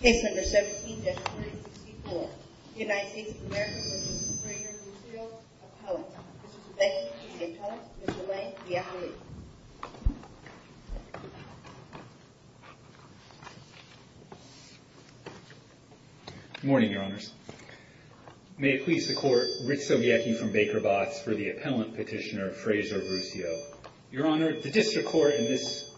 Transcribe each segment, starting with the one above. Case number 17-364. United States of America v. Fraser Verrusio, Appellant. Mr. Zubecki, the attorney, Mr. Lang, the appellate. Good morning, Your Honors. May it please the Court, Ritz-O-Yeki from Baker Botts for the Appellant Petitioner, Fraser Verrusio. Your Honor, the District Court in this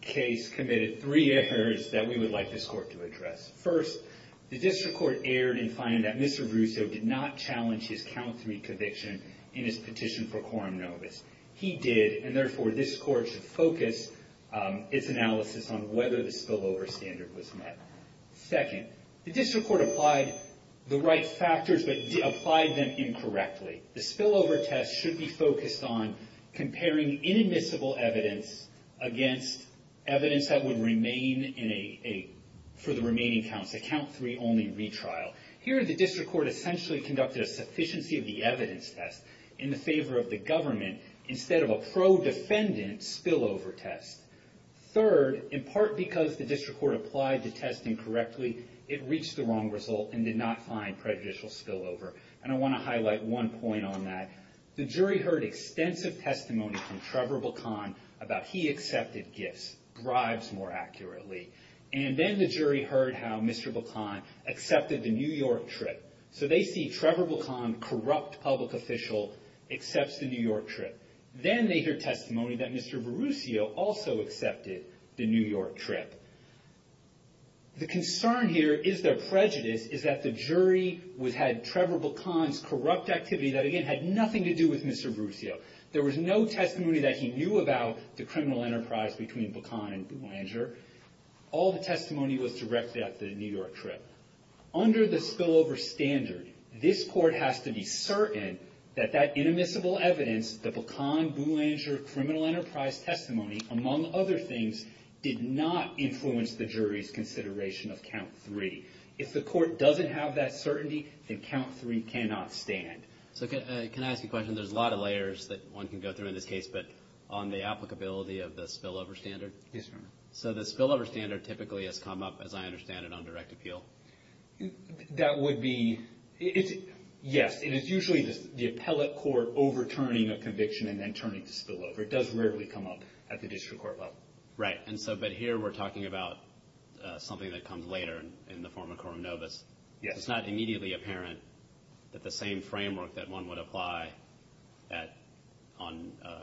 case committed three errors that we would like this Court to address. First, the District Court erred in finding that Mr. Verrusio did not challenge his count three conviction in his petition for quorum novus. He did, and therefore this Court should focus its analysis on whether the spillover standard was met. Second, the District Court applied the right factors but applied them incorrectly. The spillover test should be focused on comparing inadmissible evidence against evidence that would remain for the remaining counts, a count three only retrial. Here, the District Court essentially conducted a sufficiency of the evidence test in favor of the government instead of a pro-defendant spillover test. Third, in part because the District Court applied the test incorrectly, it reached the wrong result and did not find prejudicial spillover. And I want to highlight one point on that. The jury heard extensive testimony from Trevor Buchan about he accepted gifts, bribes more accurately. And then the jury heard how Mr. Buchan accepted the New York trip. So they see Trevor Buchan, corrupt public official, accepts the New York trip. Then they hear testimony that Mr. Verrusio also accepted the New York trip. The concern here is their prejudice is that the jury had Trevor Buchan's corrupt activity that again had nothing to do with Mr. Verrusio. There was no testimony that he knew about the criminal enterprise between Buchan and Blanger. All the testimony was directed at the New York trip. Under the spillover standard, this court has to be certain that that inadmissible evidence, the Buchan-Blanger criminal enterprise testimony, among other things, did not influence the jury's consideration of count three. If the court doesn't have that certainty, then count three cannot stand. So can I ask you a question? There's a lot of layers that one can go through in this case, but on the applicability of the spillover standard. Yes, Your Honor. So the spillover standard typically has come up, as I understand it, on direct appeal. That would be – yes. It is usually the appellate court overturning a conviction and then turning to spillover. It does rarely come up at the district court level. Right. But here we're talking about something that comes later in the form of coram nobis. Yes. It's not immediately apparent that the same framework that one would apply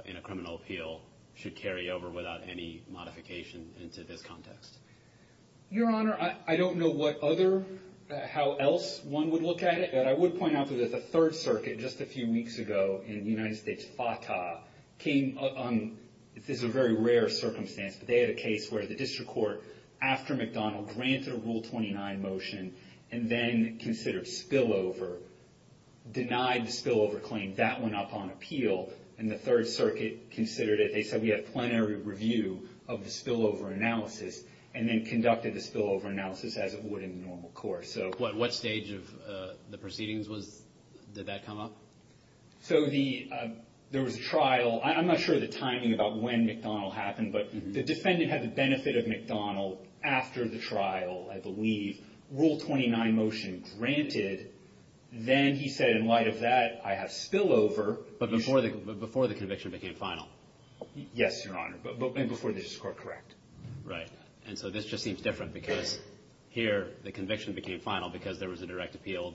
in a criminal appeal should carry over without any modification into this context. Your Honor, I don't know what other – how else one would look at it, but I would point out that the Third Circuit just a few weeks ago in the United States, FATA, came – this is a very rare circumstance, but they had a case where the district court, after McDonnell, granted a Rule 29 motion and then considered spillover, denied the spillover claim. That went up on appeal, and the Third Circuit considered it. They said we had a plenary review of the spillover analysis and then conducted the spillover analysis as it would in the normal course. What stage of the proceedings was – did that come up? So the – there was a trial. I'm not sure of the timing about when McDonnell happened, but the defendant had the benefit of McDonnell after the trial, I believe. Rule 29 motion granted. Then he said, in light of that, I have spillover. But before the conviction became final. Yes, Your Honor, and before the district court correct. Right. And so this just seems different because here the conviction became final because there was a direct appeal.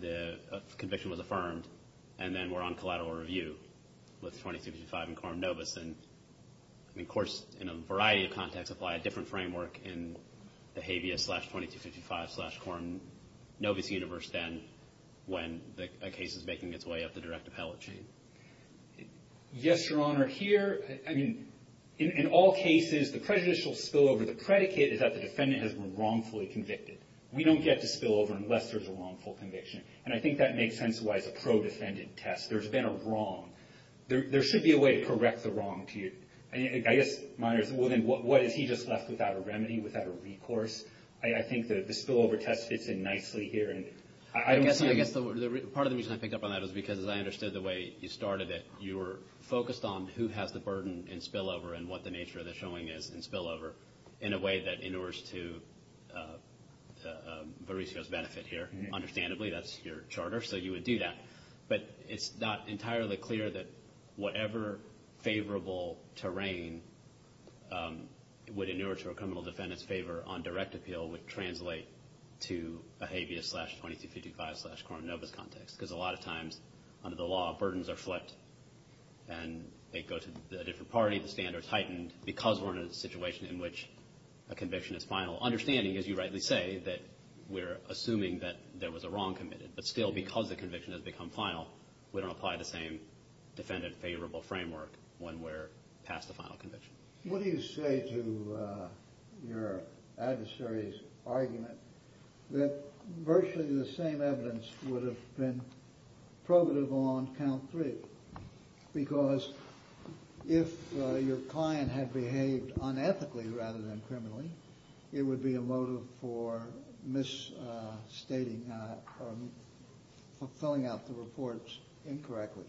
The conviction was affirmed. And then we're on collateral review with 2255 and Coram Novus. And, of course, in a variety of contexts apply a different framework in the habeas slash 2255 slash Coram Novus universe then when a case is making its way up the direct appellate sheet. Yes, Your Honor. Here – I mean, in all cases, the prejudicial spillover, the predicate is that the defendant has been wrongfully convicted. We don't get to spillover unless there's a wrongful conviction. And I think that makes sense why it's a pro-defendant test. There's been a wrong. There should be a way to correct the wrong to you. I guess mine is, well, then, what has he just left without a remedy, without a recourse? I think the spillover test fits in nicely here. And I don't see – I guess the – part of the reason I picked up on that is because as I understood the way you started it, you were focused on who has the burden in spillover and what the nature of the showing is in spillover in a way that inures to Vericio's benefit here. Understandably, that's your charter, so you would do that. But it's not entirely clear that whatever favorable terrain would inure to a criminal defendant's favor on direct appeal would translate to a habeas slash 2255 slash Coram Novus context because a lot of times under the law, burdens are flipped and they go to a different party, the standards heightened, because we're in a situation in which a conviction is final. Understanding, as you rightly say, that we're assuming that there was a wrong committed, but still because the conviction has become final, we don't apply the same defendant favorable framework when we're past the final conviction. What do you say to your adversary's argument that virtually the same evidence would have been probative on count three because if your client had behaved unethically rather than criminally, it would be a motive for misstating or filling out the reports incorrectly?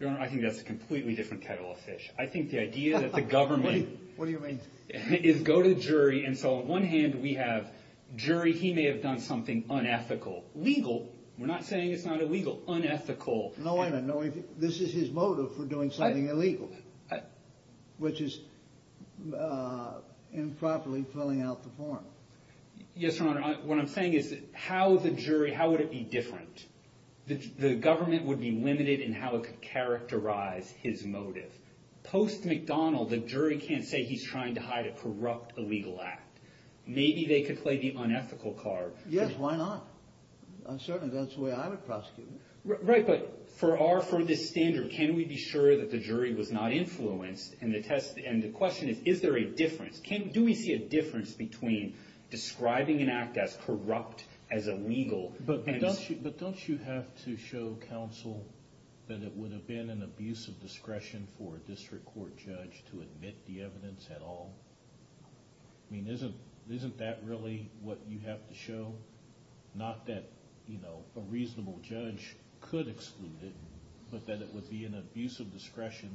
Your Honor, I think that's a completely different kettle of fish. I think the idea that the government... What do you mean? Is go to the jury and so on one hand we have jury, he may have done something unethical. Legal, we're not saying it's not illegal, unethical. No, I don't know. This is his motive for doing something illegal, which is improperly filling out the form. Yes, Your Honor. What I'm saying is how the jury, how would it be different? The government would be limited in how it could characterize his motive. Post-McDonald, the jury can't say he's trying to hide a corrupt illegal act. Maybe they could play the unethical card. Yes, why not? Uncertainly, that's the way I would prosecute him. Right, but for this standard, can we be sure that the jury was not influenced? And the question is, is there a difference? Do we see a difference between describing an act as corrupt, as illegal? But don't you have to show counsel that it would have been an abuse of discretion for a district court judge to admit the evidence at all? I mean, isn't that really what you have to show? Not that a reasonable judge could exclude it, but that it would be an abuse of discretion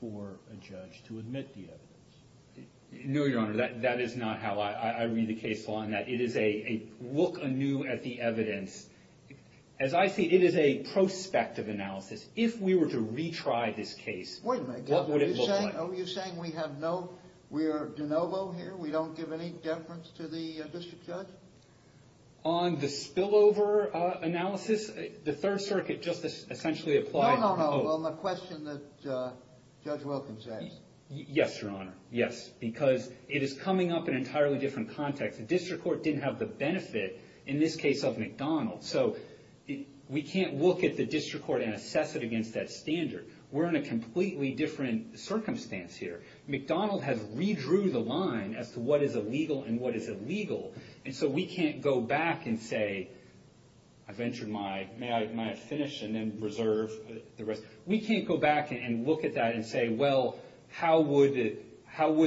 for a judge to admit the evidence. No, Your Honor, that is not how I read the case law. It is a look anew at the evidence. As I see it, it is a prospective analysis. If we were to retry this case, what would it look like? Wait a minute, are you saying we have no, we are de novo here? We don't give any deference to the district judge? On the spillover analysis, the Third Circuit just essentially applied... No, no, no, on the question that Judge Wilkins asked. Yes, Your Honor, yes, because it is coming up in an entirely different context. The district court didn't have the benefit in this case of McDonald. So we can't look at the district court and assess it against that standard. We're in a completely different circumstance here. McDonald has redrew the line as to what is illegal and what is illegal. And so we can't go back and say, I've entered my, may I finish and then reserve the rest. We can't go back and look at that and say, well, how would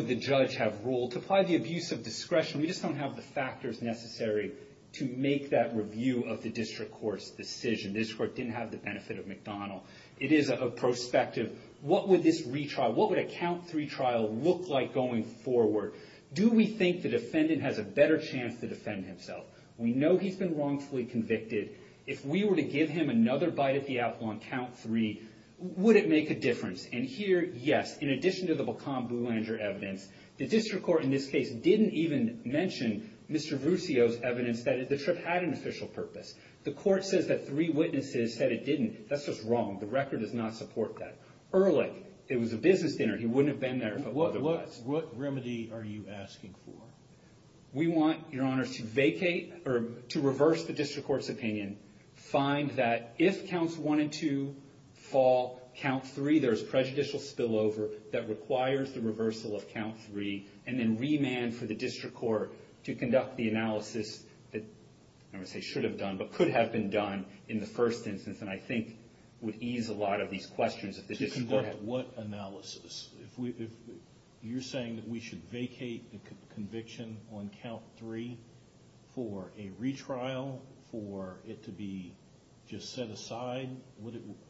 the judge have ruled? To apply the abuse of discretion, we just don't have the factors necessary to make that review of the district court's decision. The district court didn't have the benefit of McDonald. It is a prospective, what would this retry, what would a count three trial look like going forward? Do we think the defendant has a better chance to defend himself? We know he's been wrongfully convicted. If we were to give him another bite at the apple on count three, would it make a difference? And here, yes. In addition to the Blacan-Boulanger evidence, the district court in this case didn't even mention Mr. Ruscio's evidence that the trip had an official purpose. The court says that three witnesses said it didn't. That's just wrong. The record does not support that. Ehrlich, it was a business dinner. He wouldn't have been there if it wasn't. What remedy are you asking for? We want, Your Honors, to vacate or to reverse the district court's opinion. Find that if counts one and two fall, count three, there's prejudicial spillover that requires the reversal of count three, and then remand for the district court to conduct the analysis that I would say should have done but could have been done in the first instance, and I think would ease a lot of these questions. To conduct what analysis? You're saying that we should vacate the conviction on count three for a retrial, for it to be just set aside?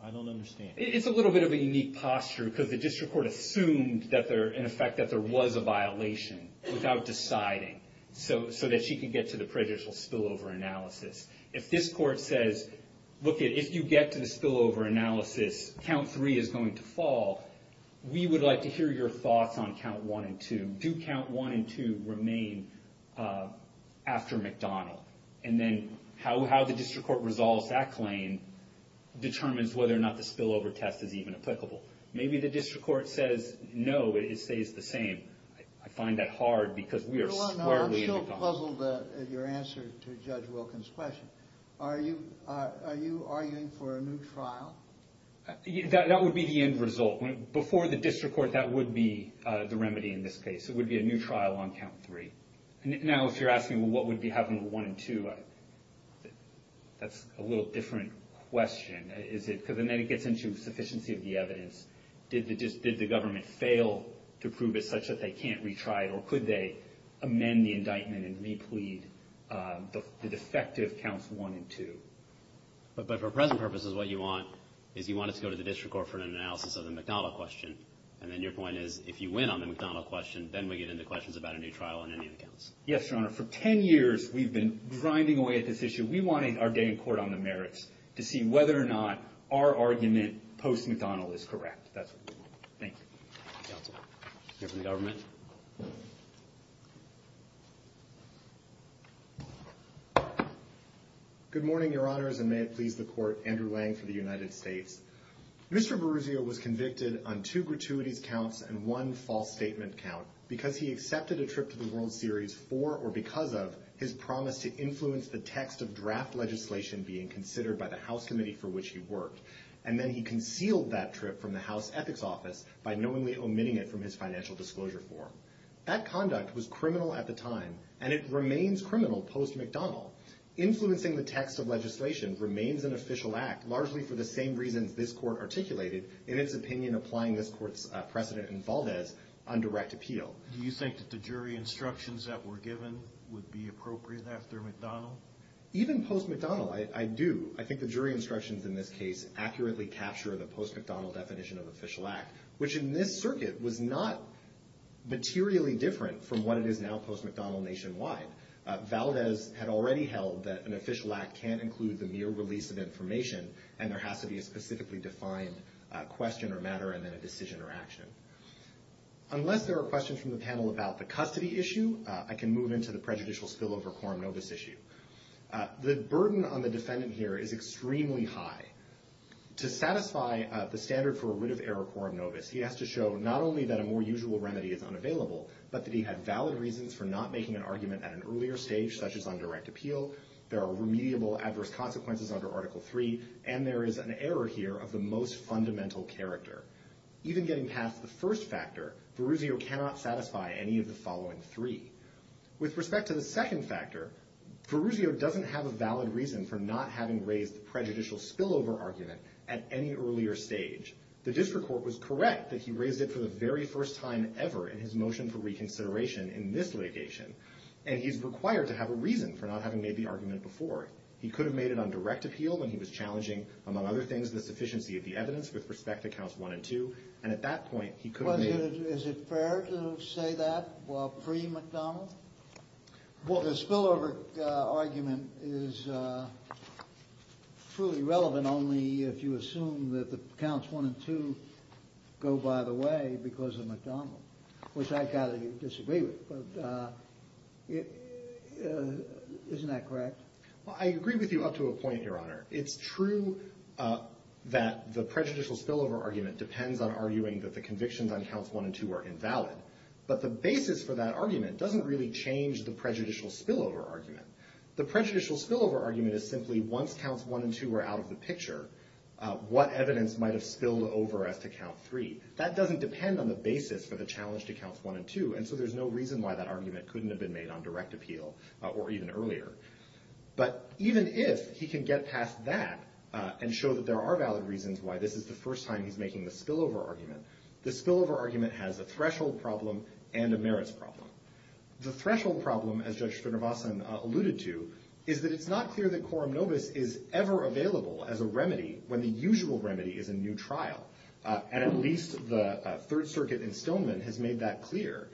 I don't understand. It's a little bit of a unique posture because the district court assumed, in effect, that there was a violation without deciding so that she could get to the prejudicial spillover analysis. If this court says, look, if you get to the spillover analysis, count three is going to fall, we would like to hear your thoughts on count one and two. Do count one and two remain after McDonnell? And then how the district court resolves that claim determines whether or not the spillover test is even applicable. Maybe the district court says, no, it stays the same. I'm still puzzled at your answer to Judge Wilkins' question. Are you arguing for a new trial? That would be the end result. Before the district court, that would be the remedy in this case. It would be a new trial on count three. Now, if you're asking what would be happening with one and two, that's a little different question, is it? Because then it gets into sufficiency of the evidence. Did the government fail to prove it such that they can't retry it, or could they amend the indictment and replead the defective counts one and two? But for present purposes, what you want is you want it to go to the district court for an analysis of the McDonnell question. And then your point is, if you win on the McDonnell question, then we get into questions about a new trial on any of the counts. Yes, Your Honor. For ten years, we've been grinding away at this issue. We want our day in court on the merits to see whether or not our argument post-McDonnell is correct. That's what we want. Thank you. Counsel. Go to the government. Good morning, Your Honors, and may it please the Court. Andrew Lang for the United States. Mr. Boruzio was convicted on two gratuities counts and one false statement count because he accepted a trip to the World Series for or because of his promise to influence the text of draft legislation being considered by the House Committee for which he worked. And then he concealed that trip from the House Ethics Office by knowingly omitting it from his financial disclosure form. That conduct was criminal at the time, and it remains criminal post-McDonnell. Influencing the text of legislation remains an official act, largely for the same reasons this Court articulated in its opinion applying this Court's precedent in Valdez on direct appeal. Do you think that the jury instructions that were given would be appropriate after McDonnell? Even post-McDonnell, I do. I think the jury instructions in this case accurately capture the post-McDonnell definition of official act, which in this circuit was not materially different from what it is now post-McDonnell nationwide. Valdez had already held that an official act can't include the mere release of information, and there has to be a specifically defined question or matter and then a decision or action. Unless there are questions from the panel about the custody issue, I can move into the prejudicial spillover quorum novis issue. The burden on the defendant here is extremely high. To satisfy the standard for a writ of error quorum novis, he has to show not only that a more usual remedy is unavailable, but that he had valid reasons for not making an argument at an earlier stage, such as on direct appeal. There are remediable adverse consequences under Article III, and there is an error here of the most fundamental character. Even getting past the first factor, Verruzio cannot satisfy any of the following three. With respect to the second factor, Verruzio doesn't have a valid reason for not having raised the prejudicial spillover argument at any earlier stage. The district court was correct that he raised it for the very first time ever in his motion for reconsideration in this litigation, and he's required to have a reason for not having made the argument before. He could have made it on direct appeal when he was challenging, among other things, the sufficiency of the evidence with respect to counts one and two, and at that point he could have made it. Is it fair to say that while pre-McDonnell? Well, the spillover argument is truly relevant only if you assume that the counts one and two go by the way because of McDonnell, which I've got to disagree with, but isn't that correct? Well, I agree with you up to a point, Your Honor. It's true that the prejudicial spillover argument depends on arguing that the convictions on counts one and two are invalid, but the basis for that argument doesn't really change the prejudicial spillover argument. The prejudicial spillover argument is simply once counts one and two are out of the picture, what evidence might have spilled over as to count three. That doesn't depend on the basis for the challenge to counts one and two, and so there's no reason why that argument couldn't have been made on direct appeal or even earlier. But even if he can get past that and show that there are valid reasons why this is the first time he's making the spillover argument, the spillover argument has a threshold problem and a merits problem. The threshold problem, as Judge Srinivasan alluded to, is that it's not clear that quorum nobis is ever available as a remedy when the usual remedy is a new trial, and at least the Third Circuit instillment has made that clear.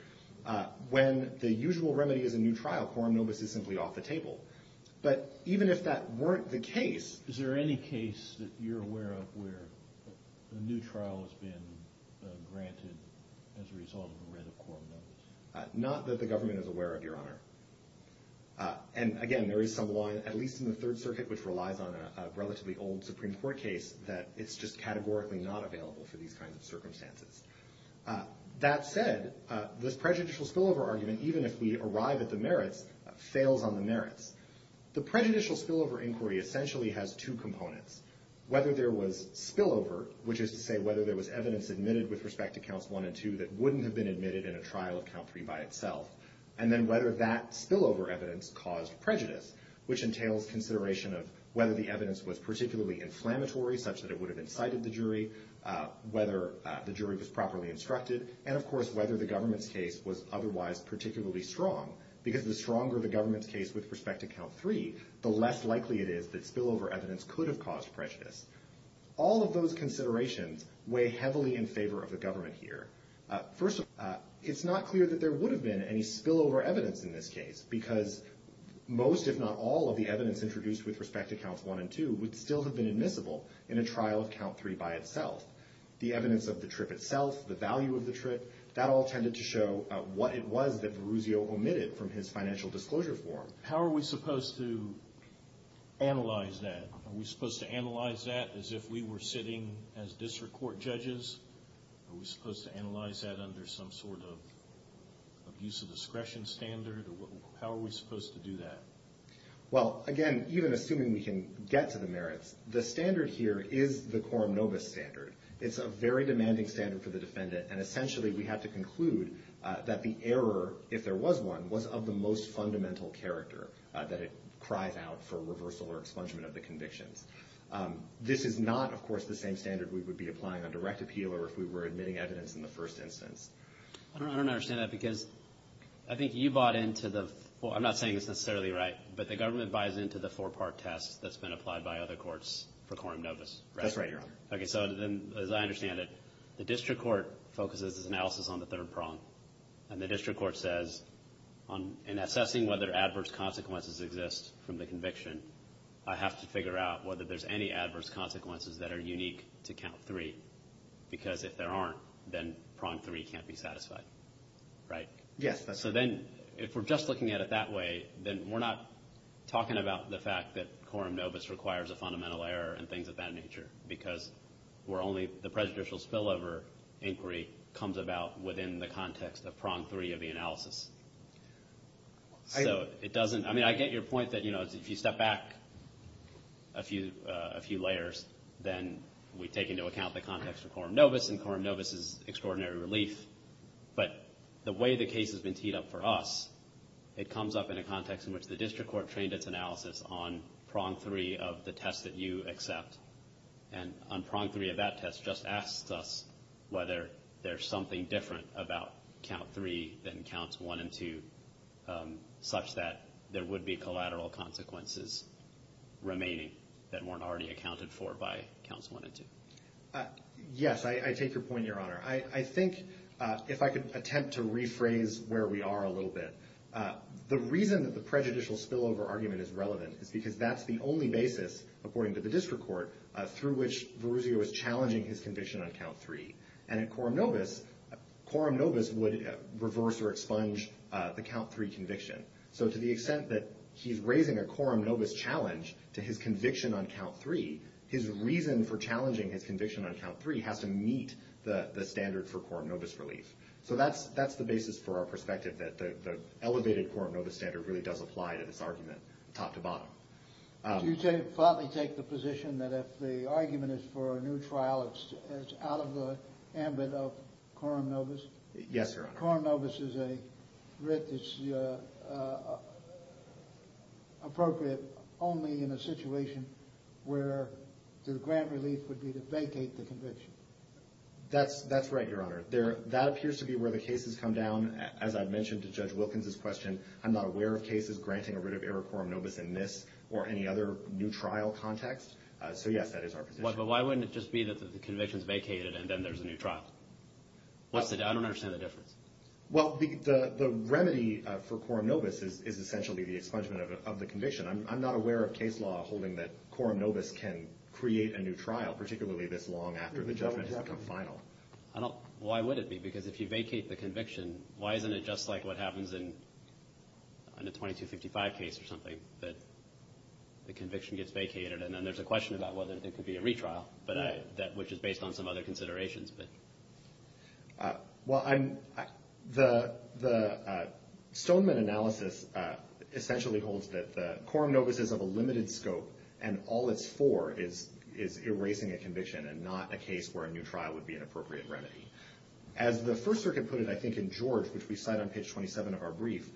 When the usual remedy is a new trial, quorum nobis is simply off the table. But even if that weren't the case... Is there any case that you're aware of where a new trial has been granted as a result of a writ of quorum nobis? Not that the government is aware of, Your Honor. And again, there is some law, at least in the Third Circuit, which relies on a relatively old Supreme Court case that it's just categorically not available for these kinds of circumstances. That said, this prejudicial spillover argument, even if we arrive at the merits, fails on the merits. The prejudicial spillover inquiry essentially has two components. Whether there was spillover, which is to say whether there was evidence admitted with respect to Counts 1 and 2 that wouldn't have been admitted in a trial of Count 3 by itself, and then whether that spillover evidence caused prejudice, which entails consideration of whether the evidence was particularly inflammatory, such that it would have incited the jury, whether the jury was properly instructed, and of course whether the government's case was otherwise particularly strong. Because the stronger the government's case with respect to Count 3, the less likely it is that spillover evidence could have caused prejudice. All of those considerations weigh heavily in favor of the government here. First of all, it's not clear that there would have been any spillover evidence in this case, because most, if not all, of the evidence introduced with respect to Counts 1 and 2 would still have been admissible. in a trial of Count 3 by itself. The evidence of the trip itself, the value of the trip, that all tended to show what it was that Verruzio omitted from his financial disclosure form. How are we supposed to analyze that? Are we supposed to analyze that as if we were sitting as district court judges? Are we supposed to analyze that under some sort of use of discretion standard? How are we supposed to do that? Well, again, even assuming we can get to the merits, the standard here is the quorum novus standard. It's a very demanding standard for the defendant, and essentially we have to conclude that the error, if there was one, was of the most fundamental character, that it cries out for reversal or expungement of the convictions. This is not, of course, the same standard we would be applying on direct appeal or if we were admitting evidence in the first instance. I don't understand that, because I think you bought into the— well, I'm not saying it's necessarily right, but the government buys into the four-part test that's been applied by other courts for quorum novus, right? That's right, Your Honor. Okay, so then, as I understand it, the district court focuses its analysis on the third prong, and the district court says in assessing whether adverse consequences exist from the conviction, I have to figure out whether there's any adverse consequences that are unique to count three, because if there aren't, then prong three can't be satisfied, right? Yes, that's right. Okay, so then, if we're just looking at it that way, then we're not talking about the fact that quorum novus requires a fundamental error and things of that nature, because we're only—the prejudicial spillover inquiry comes about within the context of prong three of the analysis. So it doesn't—I mean, I get your point that, you know, if you step back a few layers, then we take into account the context of quorum novus, and quorum novus is extraordinary relief, but the way the case has been teed up for us, it comes up in a context in which the district court trained its analysis on prong three of the test that you accept, and on prong three of that test just asks us whether there's something different about count three than counts one and two, such that there would be collateral consequences remaining that weren't already accounted for by counts one and two. Yes, I take your point, Your Honor. I think, if I could attempt to rephrase where we are a little bit, the reason that the prejudicial spillover argument is relevant is because that's the only basis, according to the district court, through which Verruzio is challenging his conviction on count three. And in quorum novus, quorum novus would reverse or expunge the count three conviction. So to the extent that he's raising a quorum novus challenge to his conviction on count three, his reason for challenging his conviction on count three has to meet the standard for quorum novus relief. So that's the basis for our perspective, that the elevated quorum novus standard really does apply to this argument, top to bottom. Do you flatly take the position that if the argument is for a new trial, it's out of the ambit of quorum novus? Yes, Your Honor. But a quorum novus is a writ that's appropriate only in a situation where the grant relief would be to vacate the conviction. That's right, Your Honor. That appears to be where the cases come down. As I've mentioned to Judge Wilkins' question, I'm not aware of cases granting a writ of error quorum novus in this or any other new trial context. So, yes, that is our position. But why wouldn't it just be that the conviction is vacated and then there's a new trial? I don't understand the difference. Well, the remedy for quorum novus is essentially the expungement of the conviction. I'm not aware of case law holding that quorum novus can create a new trial, particularly this long after the judgment has become final. Why would it be? Because if you vacate the conviction, why isn't it just like what happens in a 2255 case or something, that the conviction gets vacated and then there's a question about whether there could be a retrial, which is based on some other considerations. Well, the Stoneman analysis essentially holds that the quorum novus is of a limited scope and all it's for is erasing a conviction and not a case where a new trial would be an appropriate remedy. As the First Circuit put it, I think, in George, which we cite on page 27 of our brief,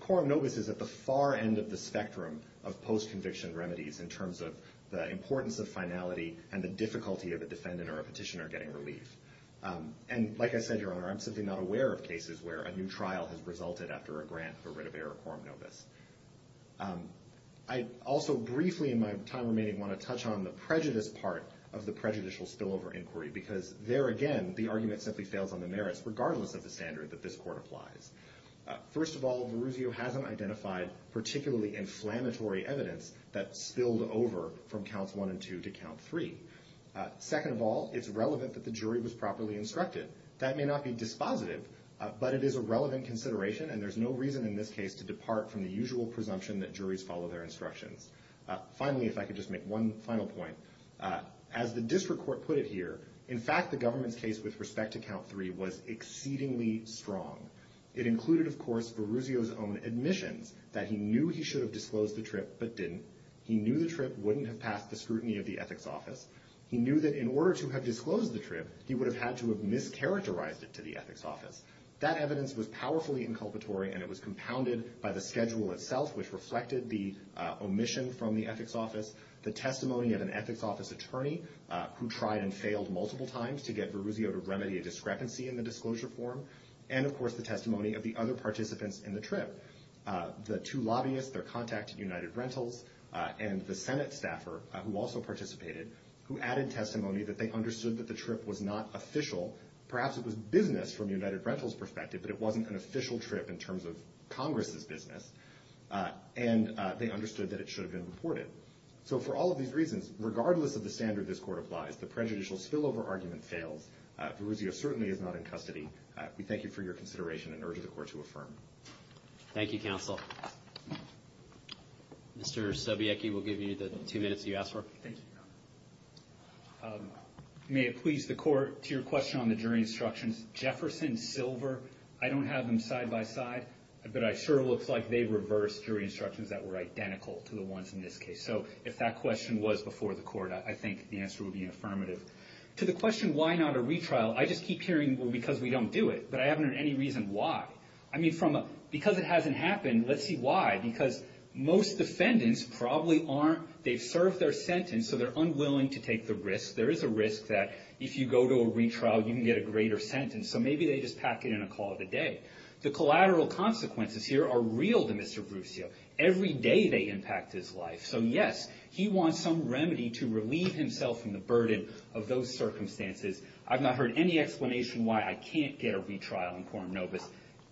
quorum novus is at the far end of the spectrum of post-conviction remedies in terms of the importance of finality and the difficulty of a defendant or a petitioner getting relief. And like I said, Your Honor, I'm simply not aware of cases where a new trial has resulted after a grant for writ of error quorum novus. I also briefly in my time remaining want to touch on the prejudice part of the prejudicial spillover inquiry because there again the argument simply fails on the merits regardless of the standard that this court applies. First of all, Verruzio hasn't identified particularly inflammatory evidence that spilled over from counts one and two to count three. Second of all, it's relevant that the jury was properly instructed. That may not be dispositive, but it is a relevant consideration and there's no reason in this case to depart from the usual presumption that juries follow their instructions. Finally, if I could just make one final point, as the district court put it here, in fact, the government's case with respect to count three was exceedingly strong. It included, of course, Verruzio's own admissions that he knew he should have disclosed the trip but didn't. He knew the trip wouldn't have passed the scrutiny of the ethics office. He knew that in order to have disclosed the trip, he would have had to have mischaracterized it to the ethics office. That evidence was powerfully inculpatory and it was compounded by the schedule itself, which reflected the omission from the ethics office, the testimony of an ethics office attorney who tried and failed multiple times to get Verruzio to remedy a discrepancy in the disclosure form, and, of course, the testimony of the other participants in the trip. The two lobbyists, their contact at United Rentals, and the Senate staffer who also participated, who added testimony that they understood that the trip was not official. Perhaps it was business from United Rentals' perspective, but it wasn't an official trip in terms of Congress' business. And they understood that it should have been reported. So for all of these reasons, regardless of the standard this court applies, the prejudicial spillover argument fails. Verruzio certainly is not in custody. We thank you for your consideration and urge the court to affirm. Thank you, counsel. Mr. Sobiecki, we'll give you the two minutes you asked for. Thank you, Your Honor. May it please the court, to your question on the jury instructions, Jefferson, Silver, I don't have them side by side, but it sure looks like they reversed jury instructions that were identical to the ones in this case. So if that question was before the court, I think the answer would be affirmative. To the question, why not a retrial, I just keep hearing, well, because we don't do it. But I haven't heard any reason why. I mean, because it hasn't happened, let's see why. Because most defendants probably aren't, they've served their sentence, so they're unwilling to take the risk. There is a risk that if you go to a retrial, you can get a greater sentence. So maybe they just pack it in a call of the day. The collateral consequences here are real to Mr. Verruzio. Every day they impact his life. So, yes, he wants some remedy to relieve himself from the burden of those circumstances. I've not heard any explanation why I can't get a retrial in quorum nobis.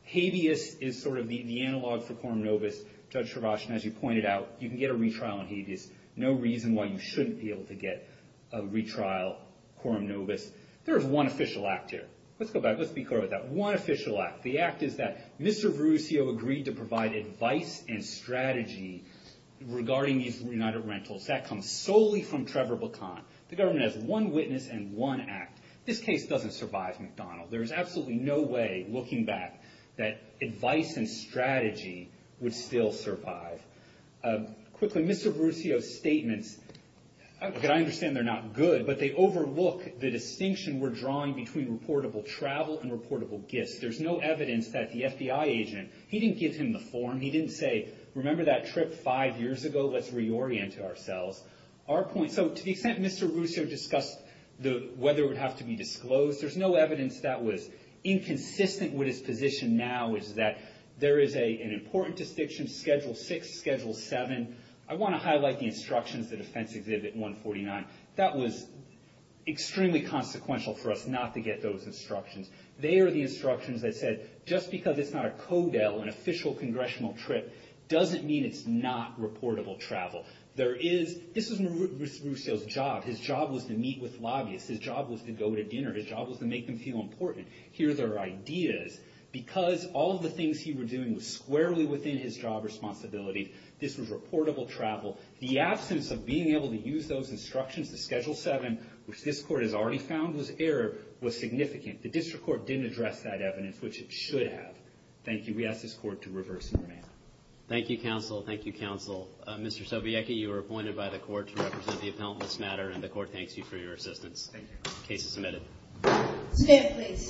Habeas is sort of the analog for quorum nobis. Judge Travascan, as you pointed out, you can get a retrial in habeas. No reason why you shouldn't be able to get a retrial quorum nobis. There is one official act here. Let's go back, let's be clear with that. One official act. The act is that Mr. Verruzio agreed to provide advice and strategy regarding these United Rentals. That comes solely from Trevor Bacon. The government has one witness and one act. This case doesn't survive McDonald. There is absolutely no way, looking back, that advice and strategy would still survive. Quickly, Mr. Verruzio's statements, I understand they're not good, but they overlook the distinction we're drawing between reportable travel and reportable gifts. There's no evidence that the FBI agent, he didn't give him the form. He didn't say, remember that trip five years ago? Let's reorient ourselves. Our point, so to the extent Mr. Verruzio discussed whether it would have to be disclosed, there's no evidence that was inconsistent with his position now, which is that there is an important distinction, Schedule 6, Schedule 7. I want to highlight the instructions, the Defense Exhibit 149. That was extremely consequential for us not to get those instructions. They are the instructions that said, just because it's not a CODEL, an official congressional trip, doesn't mean it's not reportable travel. This was Verruzio's job. His job was to meet with lobbyists. His job was to go to dinner. His job was to make them feel important, hear their ideas. Because all of the things he was doing was squarely within his job responsibility, this was reportable travel. The absence of being able to use those instructions, the Schedule 7, which this Court has already found was error, was significant. The District Court didn't address that evidence, which it should have. Thank you. We ask this Court to reverse and remand. Thank you, Counsel. Thank you, Counsel. Mr. Sobiecki, you were appointed by the Court to represent the appellant this matter, and the Court thanks you for your assistance. Thank you. The case is submitted. Stand, please.